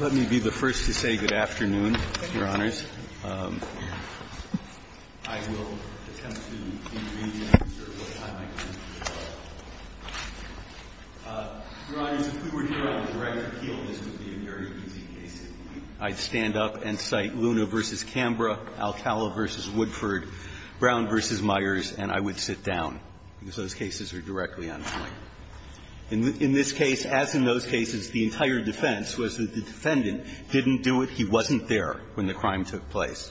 Let me be the first to say good afternoon, Your Honors. I will attempt to intervene and observe what time I can. Your Honors, if we were here on the director's heel, this would be a very easy case. I'd stand up and cite Luna v. Cambra, Alcala v. Woodford, Brown v. Myers, and I would sit down, because those cases are directly on point. In this case, as in those cases, the entire defense was that the defendant didn't do it, he wasn't there when the crime took place.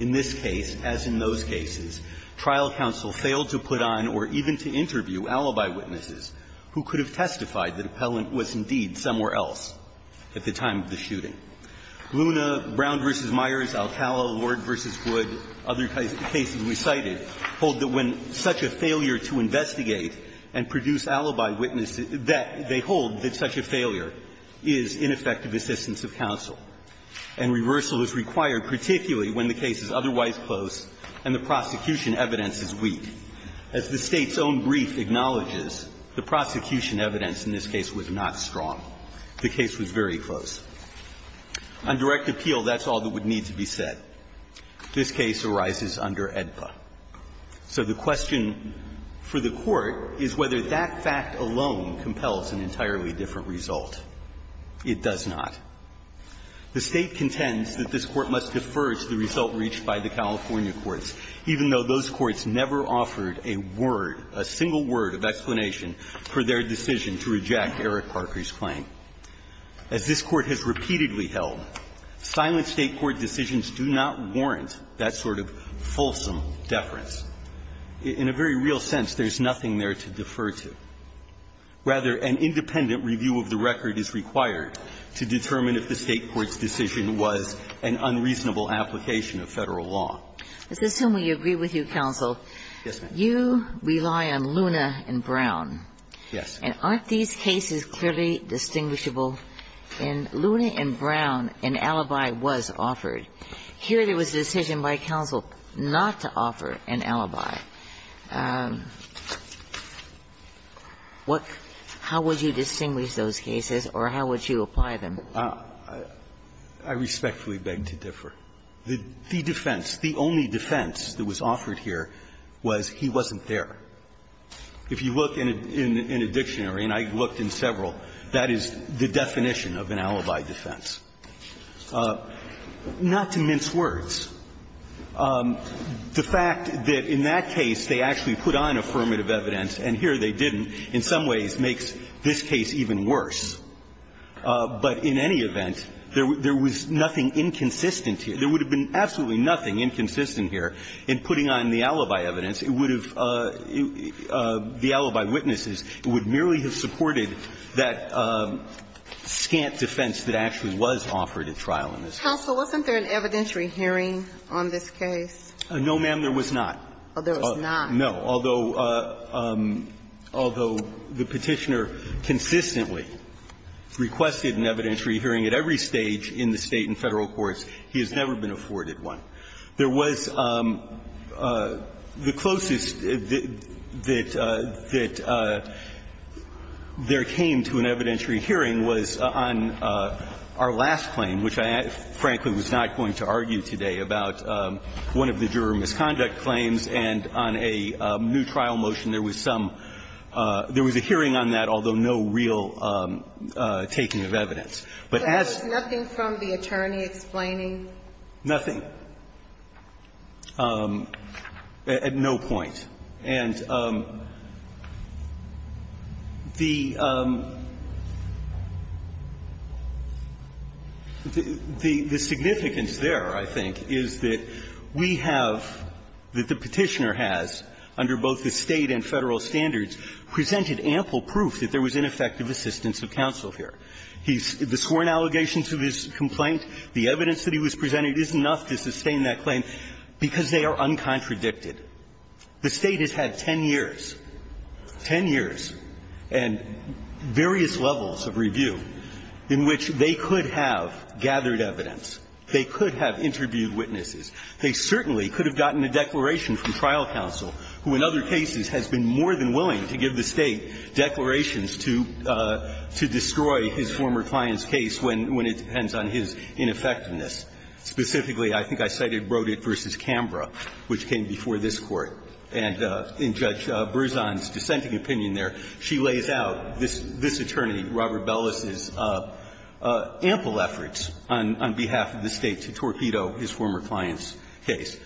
In this case, as in those cases, trial counsel failed to put on or even to interview alibi witnesses who could have testified that the appellant was indeed somewhere else at the time of the shooting. Luna, Brown v. Myers, Alcala, Lord v. Wood, other cases we cited, hold that when there is such a failure to investigate and produce alibi witnesses, that they hold that such a failure is ineffective assistance of counsel, and reversal is required, particularly when the case is otherwise close and the prosecution evidence is weak. As the State's own brief acknowledges, the prosecution evidence in this case was not strong. The case was very close. On direct appeal, that's all that would need to be said. This case arises under AEDPA. So the question for the Court is whether that fact alone compels an entirely different result. It does not. The State contends that this Court must defer to the result reached by the California courts, even though those courts never offered a word, a single word of explanation for their decision to reject Eric Parker's claim. As this Court has repeatedly held, silent State court decisions do not warrant that sort of fulsome deference. In a very real sense, there's nothing there to defer to. Rather, an independent review of the record is required to determine if the State court's decision was an unreasonable application of Federal law. As this is whom we agree with you, counsel, you rely on Luna and Brown. Yes. And aren't these cases clearly distinguishable? In Luna and Brown, an alibi was offered. Here, there was a decision by counsel not to offer an alibi. What – how would you distinguish those cases or how would you apply them? I respectfully beg to differ. The defense, the only defense that was offered here was he wasn't there. If you look in a dictionary, and I looked in several, that is the definition of an alibi defense. Not to mince words, the fact that in that case they actually put on affirmative evidence, and here they didn't, in some ways makes this case even worse. But in any event, there was nothing inconsistent here. There would have been absolutely nothing inconsistent here in putting on the alibi evidence. It would have – the alibi witnesses would merely have supported that scant defense that actually was offered at trial in this case. Counsel, wasn't there an evidentiary hearing on this case? No, ma'am, there was not. Oh, there was not. No. Although the Petitioner consistently requested an evidentiary hearing at every stage in the State and Federal courts, he has never been afforded one. There was the closest that there came to an evidentiary hearing was on our last claim, which I frankly was not going to argue today, about one of the juror misconduct claims, and on a new trial motion there was some – there was a hearing on that, although no real taking of evidence. But as – What was the attorney explaining? Nothing. At no point. And the significance there, I think, is that we have – that the Petitioner has, under both the State and Federal standards, presented ample proof that there was ineffective assistance of counsel here. He's – the sworn allegations of his complaint, the evidence that he was presented is enough to sustain that claim because they are uncontradicted. The State has had 10 years, 10 years, and various levels of review in which they could have gathered evidence, they could have interviewed witnesses, they certainly could have gotten a declaration from trial counsel, who in other cases has been more than willing to give the State declarations to destroy his former client's case when it depends on his ineffectiveness. Specifically, I think I cited Brodick v. Canberra, which came before this Court. And in Judge Berzon's dissenting opinion there, she lays out this attorney, Robert Bellis's, ample efforts on behalf of the State to torpedo his former client's case.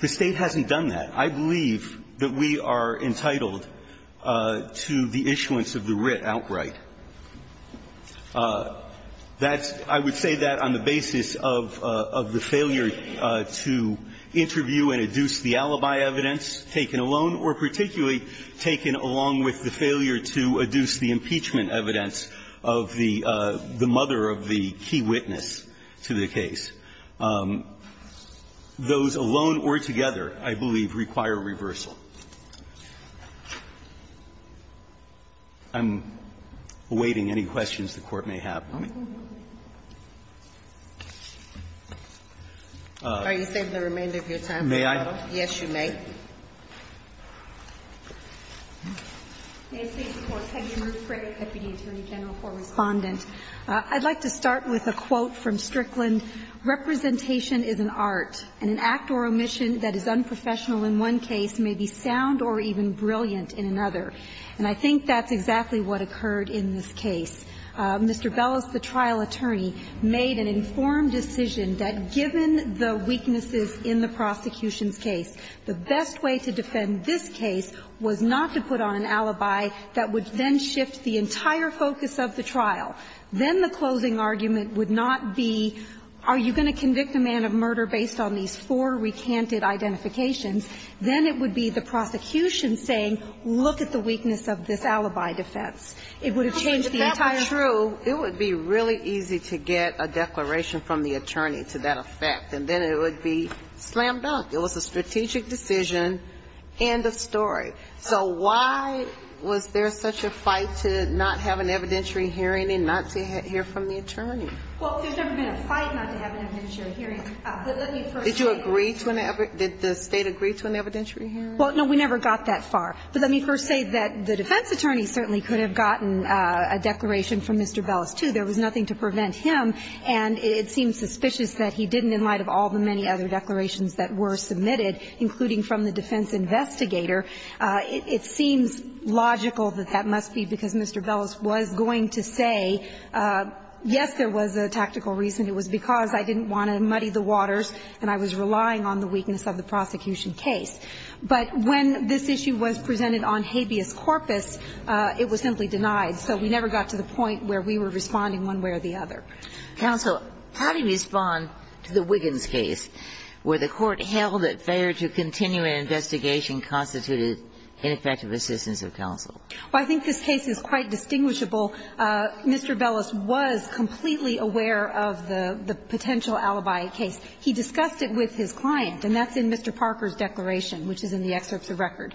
The State hasn't done that. I believe that we are entitled to the issuance of the writ outright. That's – I would say that on the basis of the failure to interview and adduce the alibi evidence taken alone or particularly taken along with the failure to adduce the impeachment evidence of the mother of the key witness to the case. Those alone or together, I believe, require reversal. I'm awaiting any questions the Court may have. May I? Yes, you may. May it please the Court. Peggy Ruthbrick, deputy attorney general for Respondent. I'd like to start with a quote from Strickland. Representation is an art, and an act or omission that is unprofessional in one case may be sound or even brilliant in another. And I think that's exactly what occurred in this case. Mr. Bellis, the trial attorney, made an informed decision that given the weaknesses in the prosecution's case, the best way to defend this case was not to put on an alibi that would then shift the entire focus of the trial. Then the closing argument would not be, are you going to convict a man of murder based on these four recanted identifications? Then it would be the prosecution saying, look at the weakness of this alibi defense. It would have changed the entire... If that were true, it would be really easy to get a declaration from the attorney to that effect, and then it would be slam dunk. It was a strategic decision and a story. So why was there such a fight to not have an evidentiary hearing and not to hear from the attorney? Well, there's never been a fight not to have an evidentiary hearing. But let me first say... Did you agree to an evidentiary... Did the state agree to an evidentiary hearing? Well, no, we never got that far. But let me first say that the defense attorney certainly could have gotten a declaration from Mr. Bellis, too. There was nothing to prevent him, and it seems suspicious that he didn't, in light of all the many other declarations that were submitted, including from the defense investigator, it seems logical that that must be because Mr. Bellis was going to say, yes, there was a tactical reason. It was because I didn't want to muddy the waters and I was relying on the weakness of the prosecution case. But when this issue was presented on habeas corpus, it was simply denied. So we never got to the point where we were responding one way or the other. Counsel, how do you respond to the Wiggins case where the court held that failure to continue an investigation constituted ineffective assistance of counsel? Well, I think this case is quite distinguishable. Mr. Bellis was completely aware of the potential alibi case. He discussed it with his client, and that's in Mr. Parker's declaration, which is in the excerpts of record.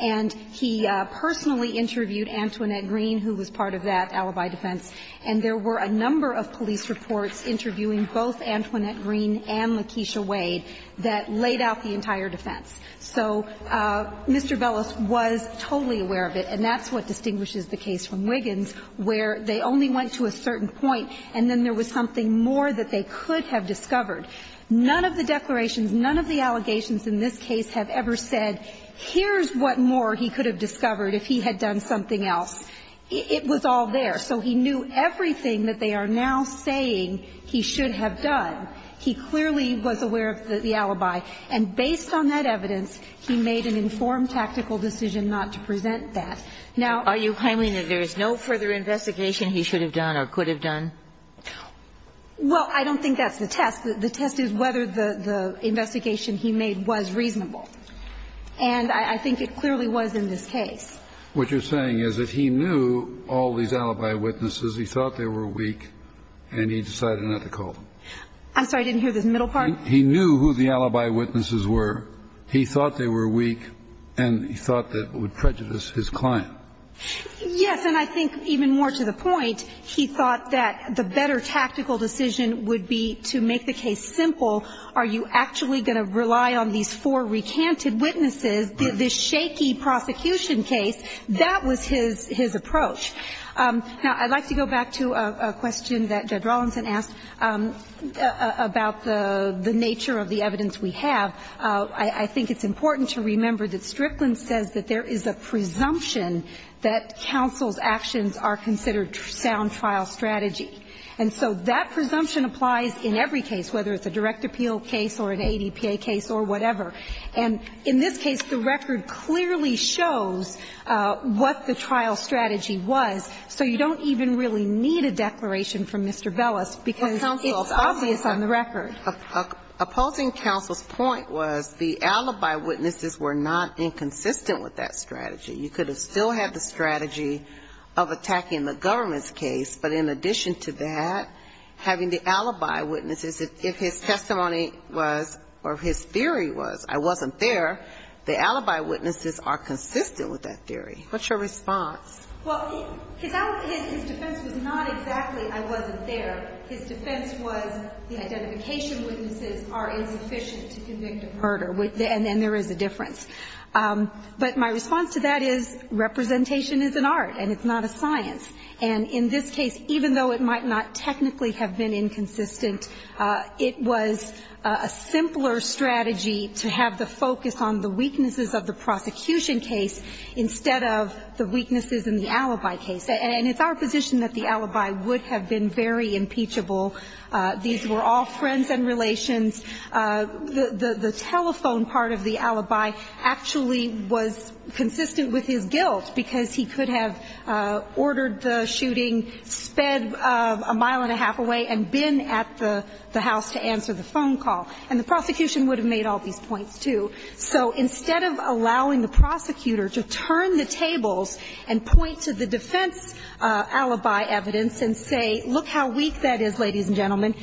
And he personally interviewed Antoinette Green, who was part of that alibi defense. And there were a number of police reports interviewing both Antoinette Green and Lakeisha Wade that laid out the entire defense. So Mr. Bellis was totally aware of it, and that's what distinguishes the case from Wiggins, where they only went to a certain point and then there was something more that they could have discovered. None of the declarations, none of the allegations in this case have ever said, here's what more he could have discovered if he had done something else. It was all there. So he knew everything that they are now saying he should have done. He clearly was aware of the alibi. And based on that evidence, he made an informed tactical decision not to present that. Now are you claiming that there is no further investigation he should have done or could have done? Well, I don't think that's the test. The test is whether the investigation he made was reasonable. And I think it clearly was in this case. What you're saying is that he knew all these alibi witnesses, he thought they were weak, and he decided not to call them. I'm sorry. I didn't hear this middle part. He knew who the alibi witnesses were. He thought they were weak, and he thought that it would prejudice his client. Yes. And I think even more to the point, he thought that the better tactical decision would be to make the case simple. Are you actually going to rely on these four recanted witnesses, this shaky prosecution case? That was his approach. Now, I'd like to go back to a question that Judge Rawlinson asked about the nature of the evidence we have. I think it's important to remember that Strickland says that there is a presumption that counsel's actions are considered sound trial strategy. And so that presumption applies in every case, whether it's a direct appeal case or an ADPA case or whatever. And in this case, the record clearly shows what the trial strategy was. So you don't even really need a declaration from Mr. Bellis because it's obvious on the record. Opposing counsel's point was the alibi witnesses were not inconsistent with that strategy. You could have still had the strategy of attacking the government's case, but in addition to that, having the alibi witnesses, if his testimony was, or his theory was, I wasn't there, the alibi witnesses are consistent with that theory. What's your response? Well, his defense was not exactly I wasn't there. His defense was the identification witnesses are insufficient to convict a murder. And there is a difference. But my response to that is representation is an art and it's not a science. And in this case, even though it might not technically have been inconsistent, it was a simpler strategy to have the focus on the weaknesses of the prosecution case instead of the weaknesses in the alibi case. And it's our position that the alibi would have been very impeachable. These were all friends and relations. The telephone part of the alibi actually was consistent with his guilt because he could have ordered the shooting, sped a mile and a half away, and been at the house to answer the phone call. And the prosecution would have made all these points, too. So instead of allowing the prosecutor to turn the tables and point to the defense alibi evidence and say, look how weak that is, ladies and gentlemen,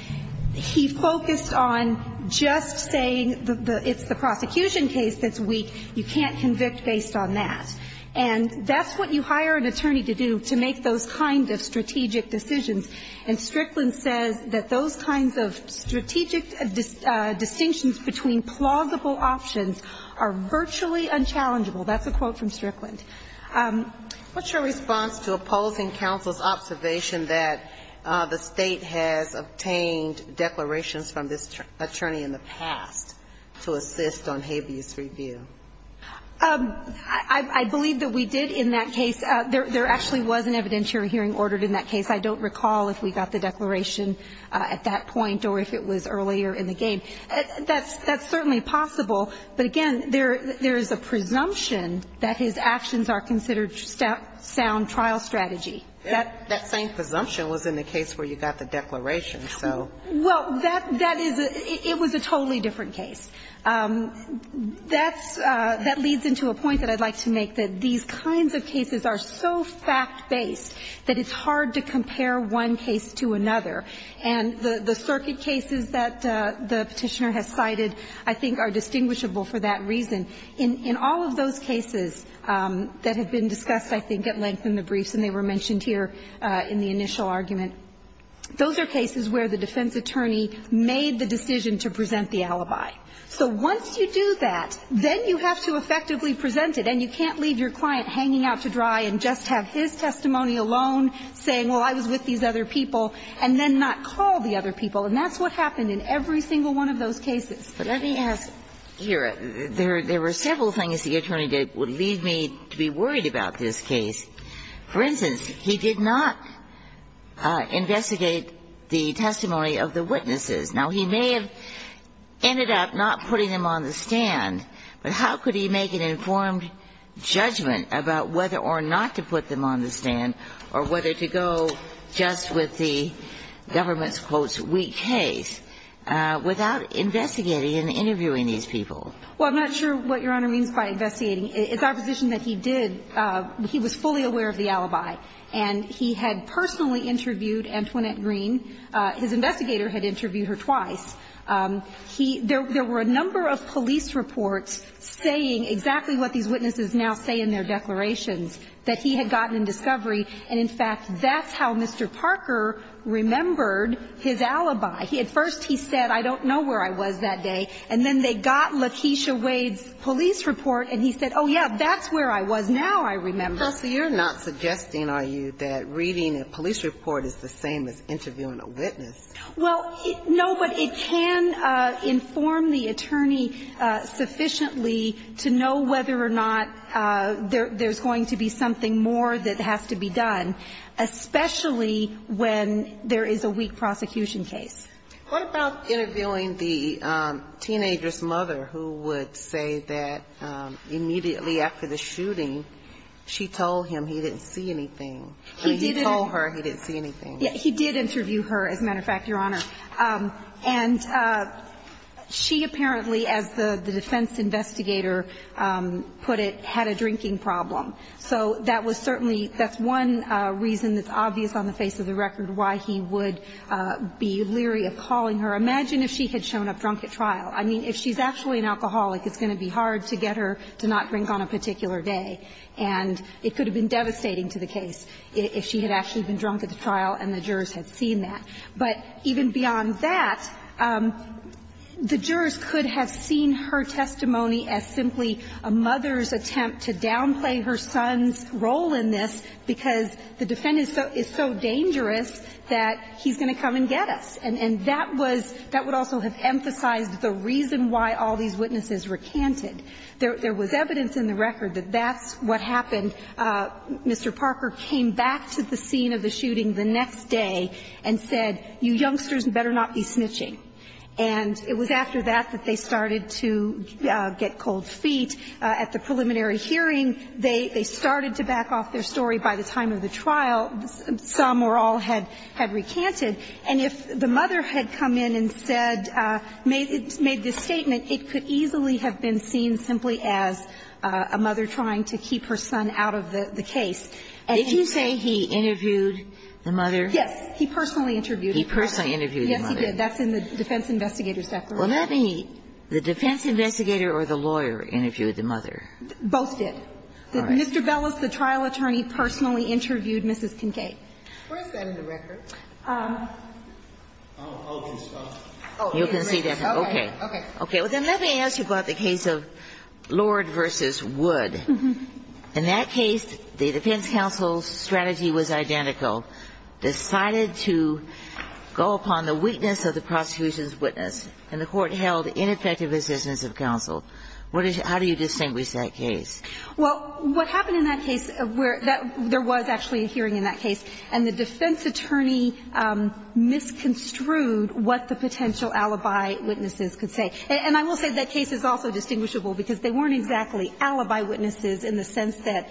he focused on just saying it's the prosecution case that's weak. You can't convict based on that. And that's what you hire an attorney to do, to make those kind of strategic decisions. And Strickland says that those kinds of strategic distinctions between plausible options are virtually unchallengeable. That's a quote from Strickland. What's your response to opposing counsel's observation that the State has obtained declarations from this attorney in the past to assist on habeas review? I believe that we did in that case. There actually was an evidentiary hearing ordered in that case. I don't recall if we got the declaration at that point or if it was earlier in the game. That's certainly possible. But again, there is a presumption that his actions are considered sound trial strategy. That same presumption was in the case where you got the declaration. Well, that is a totally different case. That's – that leads into a point that I'd like to make, that these kinds of cases are so fact-based that it's hard to compare one case to another. And the circuit cases that the Petitioner has cited, I think, are distinguishable for that reason. In all of those cases that have been discussed, I think, at length in the briefs, and they were mentioned here in the initial argument, those are cases where the defense attorney made the decision to present the alibi. So once you do that, then you have to effectively present it. And you can't leave your client hanging out to dry and just have his testimony alone, saying, well, I was with these other people, and then not call the other people. And that's what happened in every single one of those cases. But let me ask here. There were several things the attorney did that would leave me to be worried about this case. For instance, he did not investigate the testimony of the witnesses. Now, he may have ended up not putting them on the stand, but how could he make an informed judgment about whether or not to put them on the stand or whether to go just with the government's, quote, weak case, without investigating and interviewing these people? Well, I'm not sure what Your Honor means by investigating. It's our position that he did. He was fully aware of the alibi. And he had personally interviewed Antoinette Green. His investigator had interviewed her twice. He – there were a number of police reports saying exactly what these witnesses now say in their declarations, that he had gotten in discovery. And, in fact, that's how Mr. Parker remembered his alibi. At first he said, I don't know where I was that day. And then they got Lakeisha Wade's police report, and he said, oh, yeah, that's where I was now, I remember. Counsel, you're not suggesting, are you, that reading a police report is the same as interviewing a witness? Well, no, but it can inform the attorney sufficiently to know whether or not there is going to be something more that has to be done, especially when there is a weak prosecution case. What about interviewing the teenager's mother, who would say that immediately after the shooting, she told him he didn't see anything, and he told her he didn't see anything? He did interview her, as a matter of fact, Your Honor. And she apparently, as the defense investigator put it, had a drinking problem. So that was certainly – that's one reason that's obvious on the face of the record why he would be leery of calling her. Imagine if she had shown up drunk at trial. I mean, if she's actually an alcoholic, it's going to be hard to get her to not drink on a particular day. And it could have been devastating to the case if she had actually been drunk at the trial and the jurors had seen that. But even beyond that, the jurors could have seen her testimony as simply a mother's attempt to downplay her son's role in this, because the defendant is so dangerous that he's going to come and get us. And that was – that would also have emphasized the reason why all these witnesses recanted. There was evidence in the record that that's what happened. Mr. Parker came back to the scene of the shooting the next day and said, you youngsters better not be snitching. And it was after that that they started to get cold feet. At the preliminary hearing, they started to back off their story by the time of the trial. Some or all had recanted. And if the mother had come in and said – made this statement, it could easily have been seen simply as a mother trying to keep her son out of the case. And he said he interviewed the mother? Yes. He personally interviewed the mother. He personally interviewed the mother. Yes, he did. That's in the defense investigator's declaration. Well, not any. The defense investigator or the lawyer interviewed the mother? Both did. All right. Mr. Bellis, the trial attorney, personally interviewed Mrs. Kincaid. Where is that in the record? Oh, okay. You can see that. Okay. Okay. Okay. Well, then let me ask you about the case of Lord v. Wood. In that case, the defense counsel's strategy was identical. Decided to go upon the weakness of the prosecution's witness, and the Court held ineffective decisions of counsel. What is – how do you distinguish that case? Well, what happened in that case – there was actually a hearing in that case, and the defense attorney misconstrued what the potential alibi witnesses could say. And I will say that case is also distinguishable, because they weren't exactly alibi witnesses in the sense that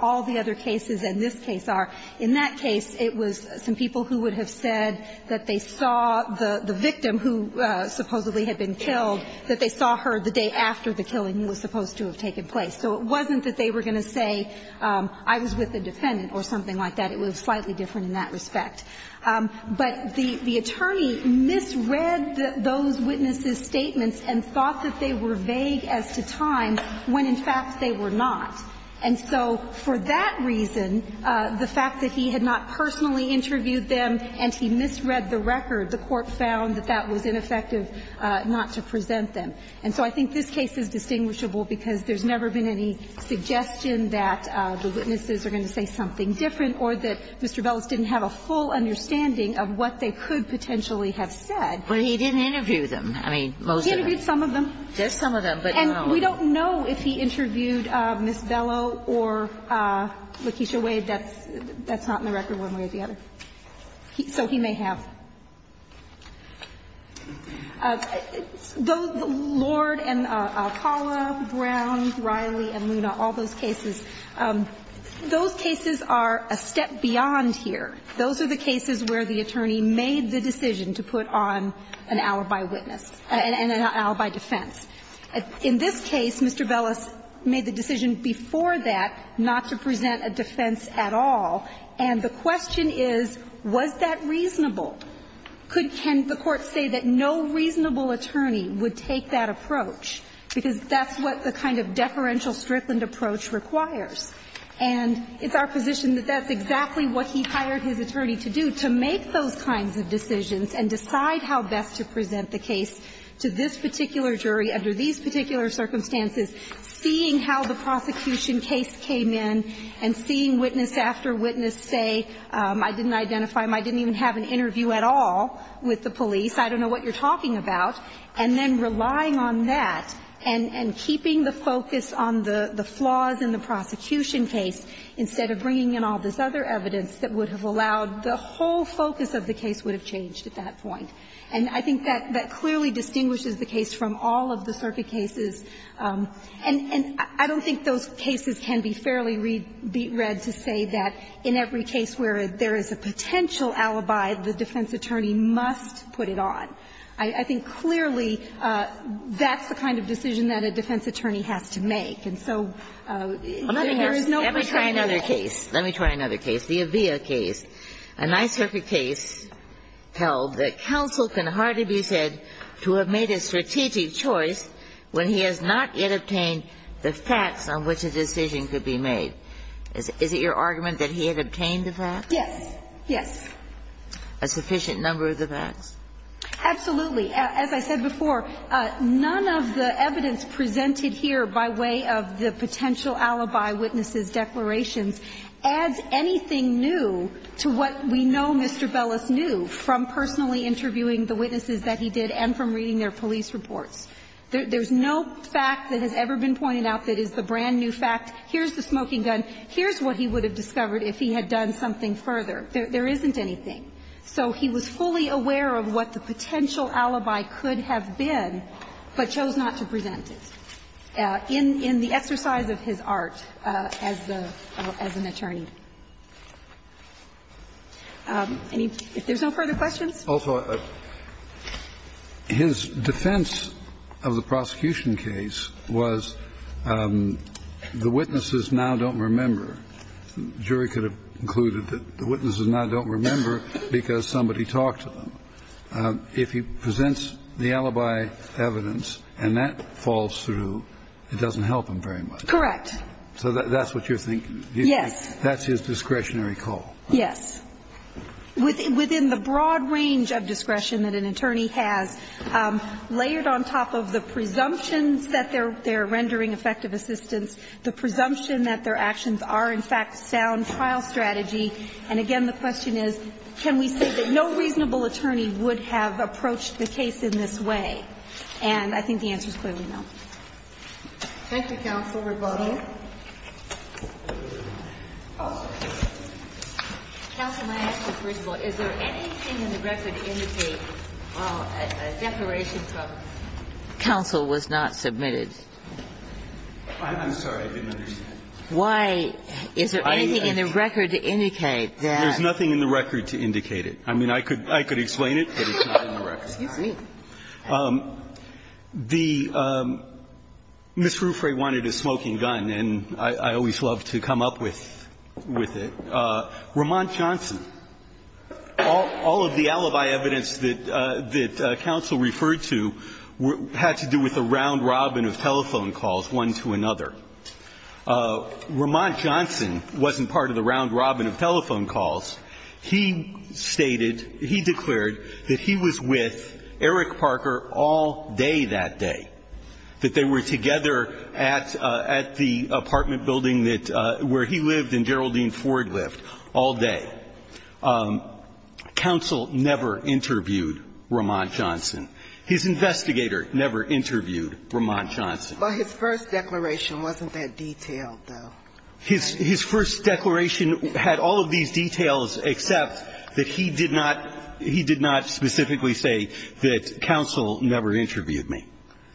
all the other cases in this case are. In that case, it was some people who would have said that they saw the victim, who supposedly had been killed, that they saw her the day after the killing was supposed to have taken place. So it wasn't that they were going to say, I was with a defendant or something like that. It was slightly different in that respect. But the attorney misread those witnesses' statements and thought that they were vague as to time, when, in fact, they were not. And so for that reason, the fact that he had not personally interviewed them and he misread the record, the Court found that that was ineffective not to present them. And so I think this case is distinguishable, because there's never been any suggestion that the witnesses are going to say something different or that Mr. Bellows didn't have a full understanding of what they could potentially have said. But he didn't interview them. I mean, most of them. He interviewed some of them. Just some of them, but not all of them. And we don't know if he interviewed Ms. Bellow or Lakeisha Wade. That's not in the record one way or the other. So he may have. Those Lord and Alcala, Brown, Riley, and Luna, all those cases, those cases are a step beyond here. Those are the cases where the attorney made the decision to put on an alibi witness and an alibi defense. In this case, Mr. Bellows made the decision before that not to present a defense at all. And the question is, was that reasonable? Could the Court say that no reasonable attorney would take that approach, because that's what the kind of deferential, strictly approach requires? And it's our position that that's exactly what he hired his attorney to do, to make those kinds of decisions and decide how best to present the case to this particular jury under these particular circumstances, seeing how the prosecution case came in, and seeing witness after witness say, I didn't identify him, I didn't even have an interview at all with the police, I don't know what you're talking about, and then relying on that and keeping the focus on the flaws in the prosecution case, instead of bringing in all this other evidence that would have allowed the whole focus of the case would have changed at that point. And I think that clearly distinguishes the case from all of the circuit cases. And I don't think those cases can be fairly read to say that in every case where there is a potential alibi, the defense attorney must put it on. I think clearly that's the kind of decision that a defense attorney has to make. And so there is no question that that's the case. Kagan, Let me try another case. Let me try another case, the Avea case, a nice, perfect case held that counsel can hardly be said to have made a strategic choice when he has not yet obtained the facts on which a decision could be made. Is it your argument that he had obtained the facts? Yes. Yes. A sufficient number of the facts? Absolutely. As I said before, none of the evidence presented here by way of the potential alibi, witnesses, declarations, adds anything new to what we know Mr. Bellis knew from personally interviewing the witnesses that he did and from reading their police reports. There's no fact that has ever been pointed out that is the brand-new fact. Here's the smoking gun. Here's what he would have discovered if he had done something further. There isn't anything. So he was fully aware of what the potential alibi could have been, but chose not to present it in the exercise of his art as the as an attorney. And if there's no further questions. Also, his defense of the prosecution case was the witnesses now don't remember. The jury could have concluded that the witnesses now don't remember because somebody talked to them. If he presents the alibi evidence and that falls through, it doesn't help him very much. Correct. So that's what you're thinking? Yes. That's his discretionary call. Yes. Within the broad range of discretion that an attorney has, layered on top of the presumptions that they're rendering effective assistance, the presumption that their actions are, in fact, sound trial strategy. And again, the question is, can we say that no reasonable attorney would have approached the case in this way? And I think the answer is clearly no. Thank you, counsel. Rebuttal. Counsel, my question is, first of all, is there anything in the record to indicate that a declaration from counsel was not submitted? I'm sorry, I didn't understand. Why is there anything in the record to indicate that? There's nothing in the record to indicate it. I mean, I could explain it, but it's not in the record. Excuse me. The Mrs. Rufre wanted a smoking gun, and I always love to come up with it. Ramont Johnson. All of the alibi evidence that counsel referred to had to do with a round-robin of telephone calls, one to another. Ramont Johnson wasn't part of the round-robin of telephone calls. He stated, he declared that he was with Eric Parker all day that day, that they were together at the apartment building that he lived and Geraldine Ford lived all day. Counsel never interviewed Ramont Johnson. His investigator never interviewed Ramont Johnson. But his first declaration wasn't that detailed, though. His first declaration had all of these details, except that he did not he did not specifically say that counsel never interviewed me.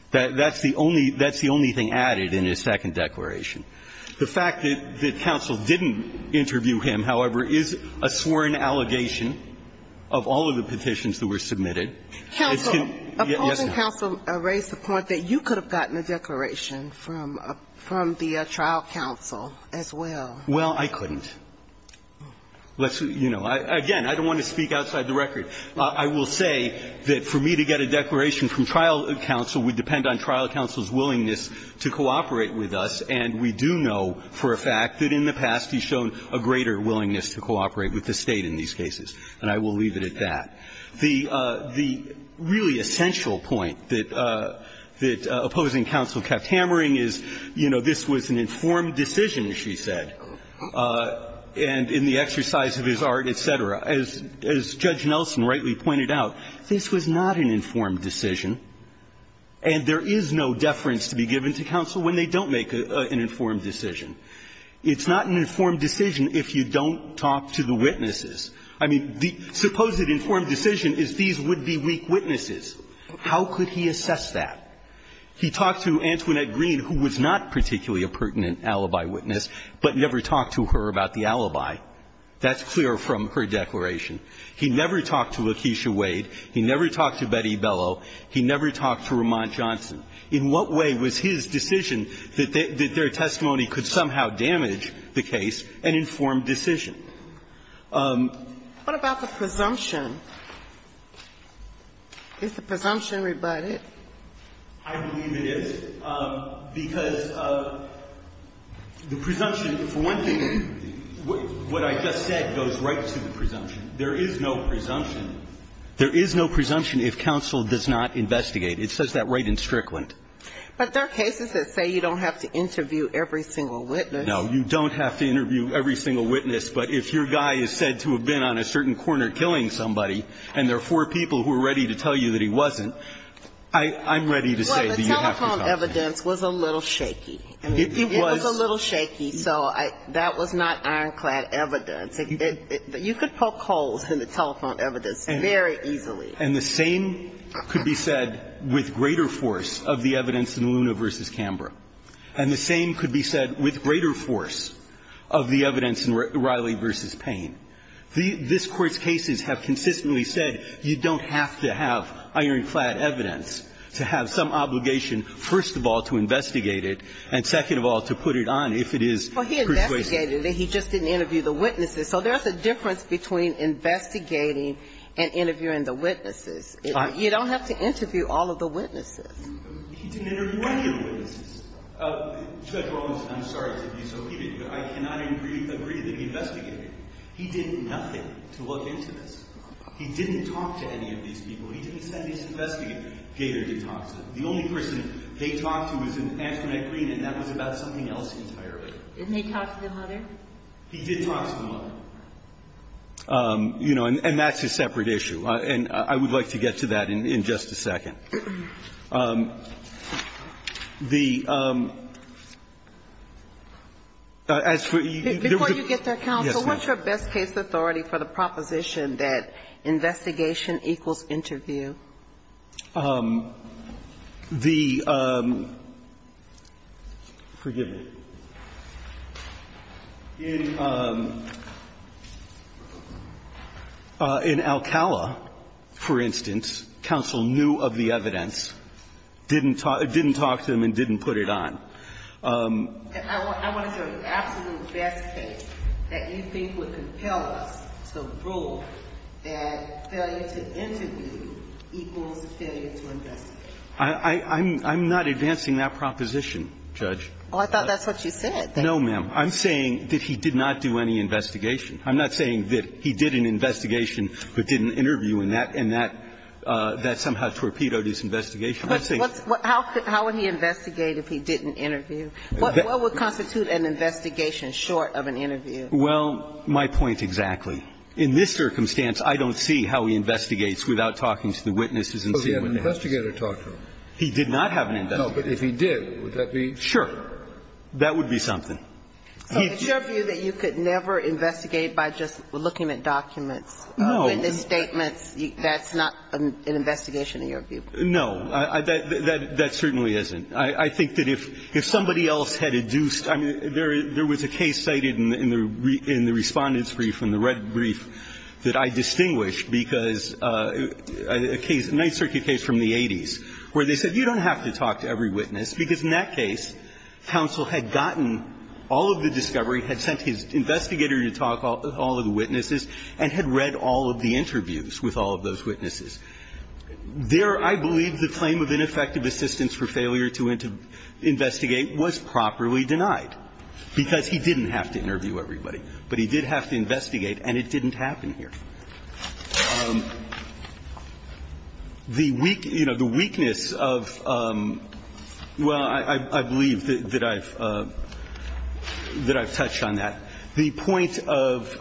That's the only that's the only thing added in his second declaration. The fact that counsel didn't interview him, however, is a sworn allegation of all of the petitions that were submitted. Counsel, opposing counsel raised the point that you could have gotten a declaration from the trial counsel as well. Well, I couldn't. Let's, you know, again, I don't want to speak outside the record. I will say that for me to get a declaration from trial counsel would depend on trial counsel's willingness to cooperate with us, and we do know for a fact that in the past he's shown a greater willingness to cooperate with the State in these cases. And I will leave it at that. The really essential point that opposing counsel kept hammering is, you know, this was an informed decision, she said, and in the exercise of his art, et cetera. As Judge Nelson rightly pointed out, this was not an informed decision, and there is no deference to be given to counsel when they don't make an informed decision. It's not an informed decision if you don't talk to the witnesses. I mean, the supposed informed decision is these would be weak witnesses. How could he assess that? He talked to Antoinette Green, who was not particularly a pertinent alibi witness, but never talked to her about the alibi. That's clear from her declaration. He never talked to Lakeisha Wade. He never talked to Betty Bellow. He never talked to Ramont Johnson. In what way was his decision that their testimony could somehow damage the case an informed decision? What about the presumption? Is the presumption rebutted? I believe it is, because the presumption, for one thing, what I just said goes right to the presumption. There is no presumption. There is no presumption if counsel does not investigate. It says that right in Strickland. But there are cases that say you don't have to interview every single witness. No, you don't have to interview every single witness. But if your guy is said to have been on a certain corner killing somebody and there are four people who are ready to tell you that he wasn't, I'm ready to say that you have to tell me. Well, the telephone evidence was a little shaky. It was a little shaky, so that was not ironclad evidence. You could poke holes in the telephone evidence very easily. And the same could be said with greater force of the evidence in Luna v. Canberra. And the same could be said with greater force of the evidence in Riley v. Payne. This Court's cases have consistently said you don't have to have ironclad evidence to have some obligation, first of all, to investigate it, and second of all, to put it on if it is persuasive. Well, he investigated it. He just didn't interview the witnesses. So there's a difference between investigating and interviewing the witnesses. You don't have to interview all of the witnesses. He didn't interview any of the witnesses. Judge Rollins, I'm sorry to be so heated, but I cannot agree that he investigated. He did nothing to look into this. He didn't talk to any of these people. He didn't send these investigators. Gator did talk to them. The only person they talked to was in Amsterdam and Green, and that was about something else entirely. Didn't he talk to the mother? He did talk to the mother. You know, and that's a separate issue. And I would like to get to that in just a second. The as for the Before you get there, counsel, what's your best case authority for the proposition that investigation equals interview? The, forgive me. In Alcala, for instance, counsel knew of the other case, but he didn't talk to the other witnesses, didn't talk to them, and didn't put it on. I want to hear the absolute best case that you think would compel us to rule that failure to interview equals failure to investigate. I'm not advancing that proposition, Judge. Well, I thought that's what you said. No, ma'am. I'm saying that he did not do any investigation. I'm not saying that he did an investigation but didn't interview, and that somehow that's where Peto did his investigation. I'm saying How would he investigate if he didn't interview? What would constitute an investigation short of an interview? Well, my point exactly. In this circumstance, I don't see how he investigates without talking to the witnesses and seeing what they have. So he had an investigator talk to him? He did not have an investigator. No, but if he did, would that be Sure. That would be something. So it's your view that you could never investigate by just looking at documents? No. So in the statements, that's not an investigation, in your view? No. That certainly isn't. I think that if somebody else had induced – I mean, there was a case cited in the Respondents' Brief, in the Red Brief, that I distinguished because a case, a Ninth Circuit case from the 80s, where they said you don't have to talk to every witness, because in that case, counsel had gotten all of the discovery, had sent his investigator to talk to all of the witnesses, and had read all of the interviews with all of those witnesses. There, I believe, the claim of ineffective assistance for failure to investigate was properly denied, because he didn't have to interview everybody. But he did have to investigate, and it didn't happen here. The weak – you know, the weakness of – well, I believe that I've touched on that. The point of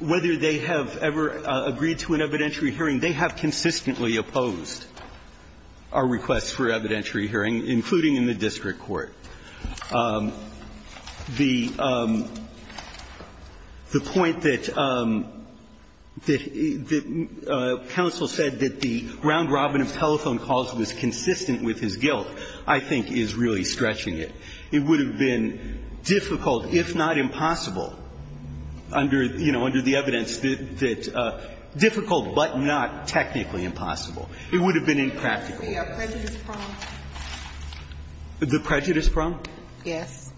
whether they have ever agreed to an evidentiary hearing, they have consistently opposed our requests for evidentiary hearing, including in the district court. The point that counsel said that the round-robin of telephone calls was consistent with his guilt, I think, is really stretching it. It would have been difficult, if not impossible, under – you know, under the evidence that – difficult, but not technically impossible. It would have been impractical. The prejudice problem? The prejudice problem? Yes.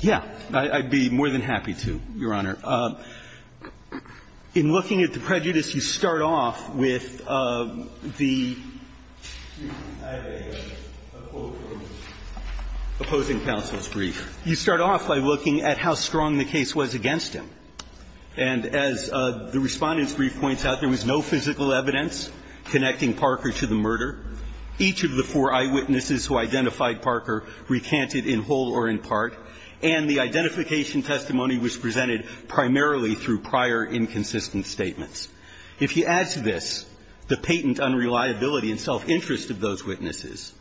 Yeah. I'd be more than happy to, Your Honor. In looking at the prejudice, you start off with the – excuse me, I have a quote from the opposing counsel's brief. You start off by looking at how strong the case was against him. And as the Respondent's brief points out, there was no physical evidence connecting Parker to the murder. Each of the four eyewitnesses who identified Parker recanted in whole or in part. And the identification testimony was presented primarily through prior inconsistent statements. If he adds to this the patent unreliability and self-interest of those witnesses,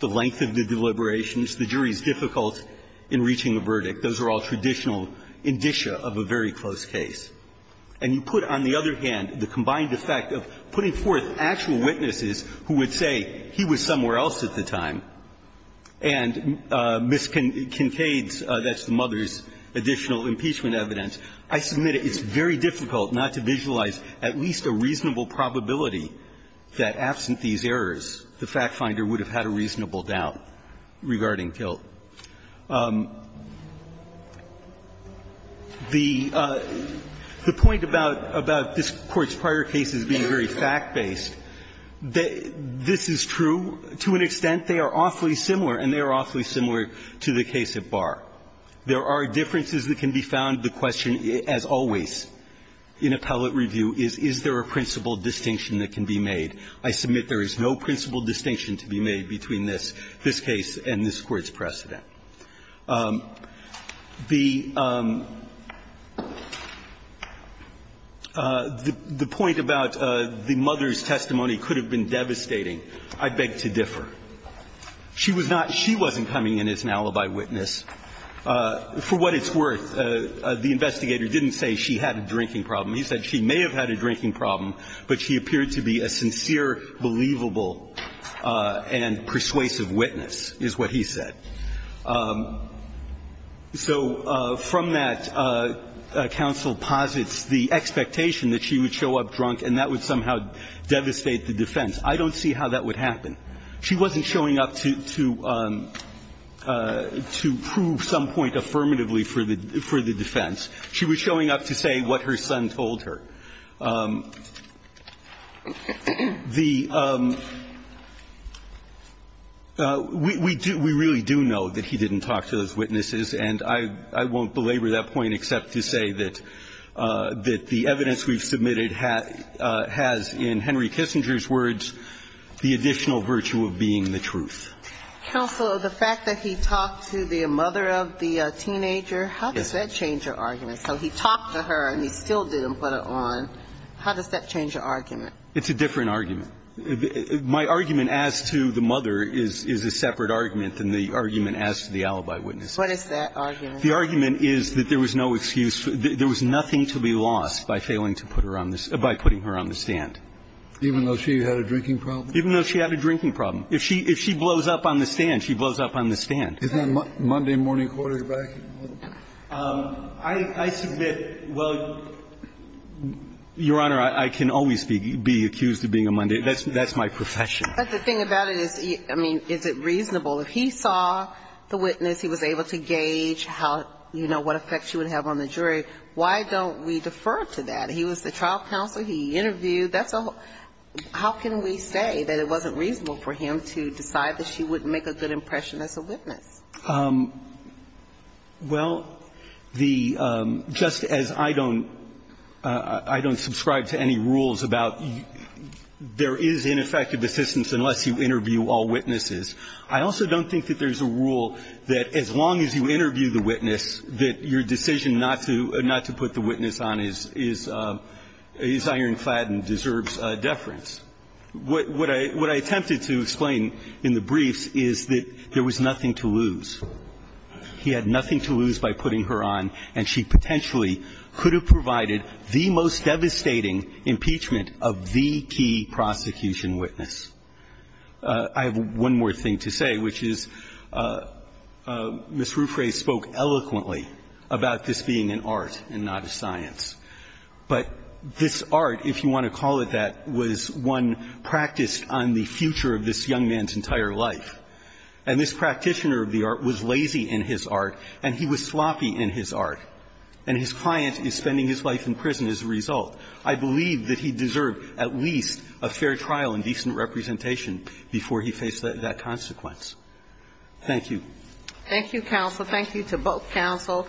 the length of the deliberations, the jury's difficulty in reaching a verdict, those are all traditional indicia of a very close case. And you put, on the other hand, the combined effect of putting forth actual witnesses who would say he was somewhere else at the time and miscontades, that's the mother's additional impeachment evidence, I submit it's very difficult not to visualize at least a reasonable probability that absent these errors, the fact finder would have had a reasonable doubt regarding Tilt. The point about this Court's prior cases being very fact-based, they are very fact-based. This is true to an extent. They are awfully similar, and they are awfully similar to the case at Barr. There are differences that can be found. The question, as always in appellate review, is, is there a principal distinction that can be made? I submit there is no principal distinction to be made between this, this case and this Court's precedent. The point about the mother's testimony could have been demonstrated by the mother's testimony. I beg to differ. She was not – she wasn't coming in as an alibi witness. For what it's worth, the investigator didn't say she had a drinking problem. He said she may have had a drinking problem, but she appeared to be a sincere, believable, and persuasive witness, is what he said. So from that, counsel posits the expectation that she would show up drunk and that would somehow devastate the defense. I don't see how that would happen. She wasn't showing up to prove some point affirmatively for the defense. She was showing up to say what her son told her. The – we really do know that he didn't talk to those witnesses, and I won't belabor that point except to say that the evidence we've submitted has, in Henry Kissinger's words, the additional virtue of being the truth. Counsel, the fact that he talked to the mother of the teenager, how does that change your argument? So he talked to her and he still didn't put it on. How does that change your argument? It's a different argument. My argument as to the mother is a separate argument than the argument as to the alibi witness. What is that argument? The argument is that there was no excuse. There was nothing to be lost by failing to put her on the – by putting her on the stand. Even though she had a drinking problem? Even though she had a drinking problem. If she blows up on the stand, she blows up on the stand. Isn't that Monday morning quarterback? I submit, well, Your Honor, I can always be accused of being a Monday. That's my profession. But the thing about it is, I mean, is it reasonable? If he saw the witness, he was able to gauge how, you know, what effect she would have on the jury, why don't we defer to that? He was the trial counselor. He interviewed. That's a – how can we say that it wasn't reasonable for him to decide that she wouldn't make a good impression as a witness? Well, the – just as I don't – I don't subscribe to any rules about there is ineffective assistance unless you interview all witnesses, I also don't think that there's a rule that as long as you interview the witness, that your decision not to put the witness on the stand preserves deference. What I attempted to explain in the briefs is that there was nothing to lose. He had nothing to lose by putting her on, and she potentially could have provided the most devastating impeachment of the key prosecution witness. I have one more thing to say, which is Ms. Ruffray spoke eloquently about this being an art and not a science. But this art, if you want to call it that, was one practiced on the future of this young man's entire life. And this practitioner of the art was lazy in his art, and he was sloppy in his art. And his client is spending his life in prison as a result. I believe that he deserved at least a fair trial and decent representation before he faced that consequence. Thank you. Thank you, counsel. Thank you to both counsel.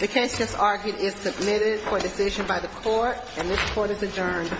The case, as argued, is submitted for decision by the court, and this court is adjourned.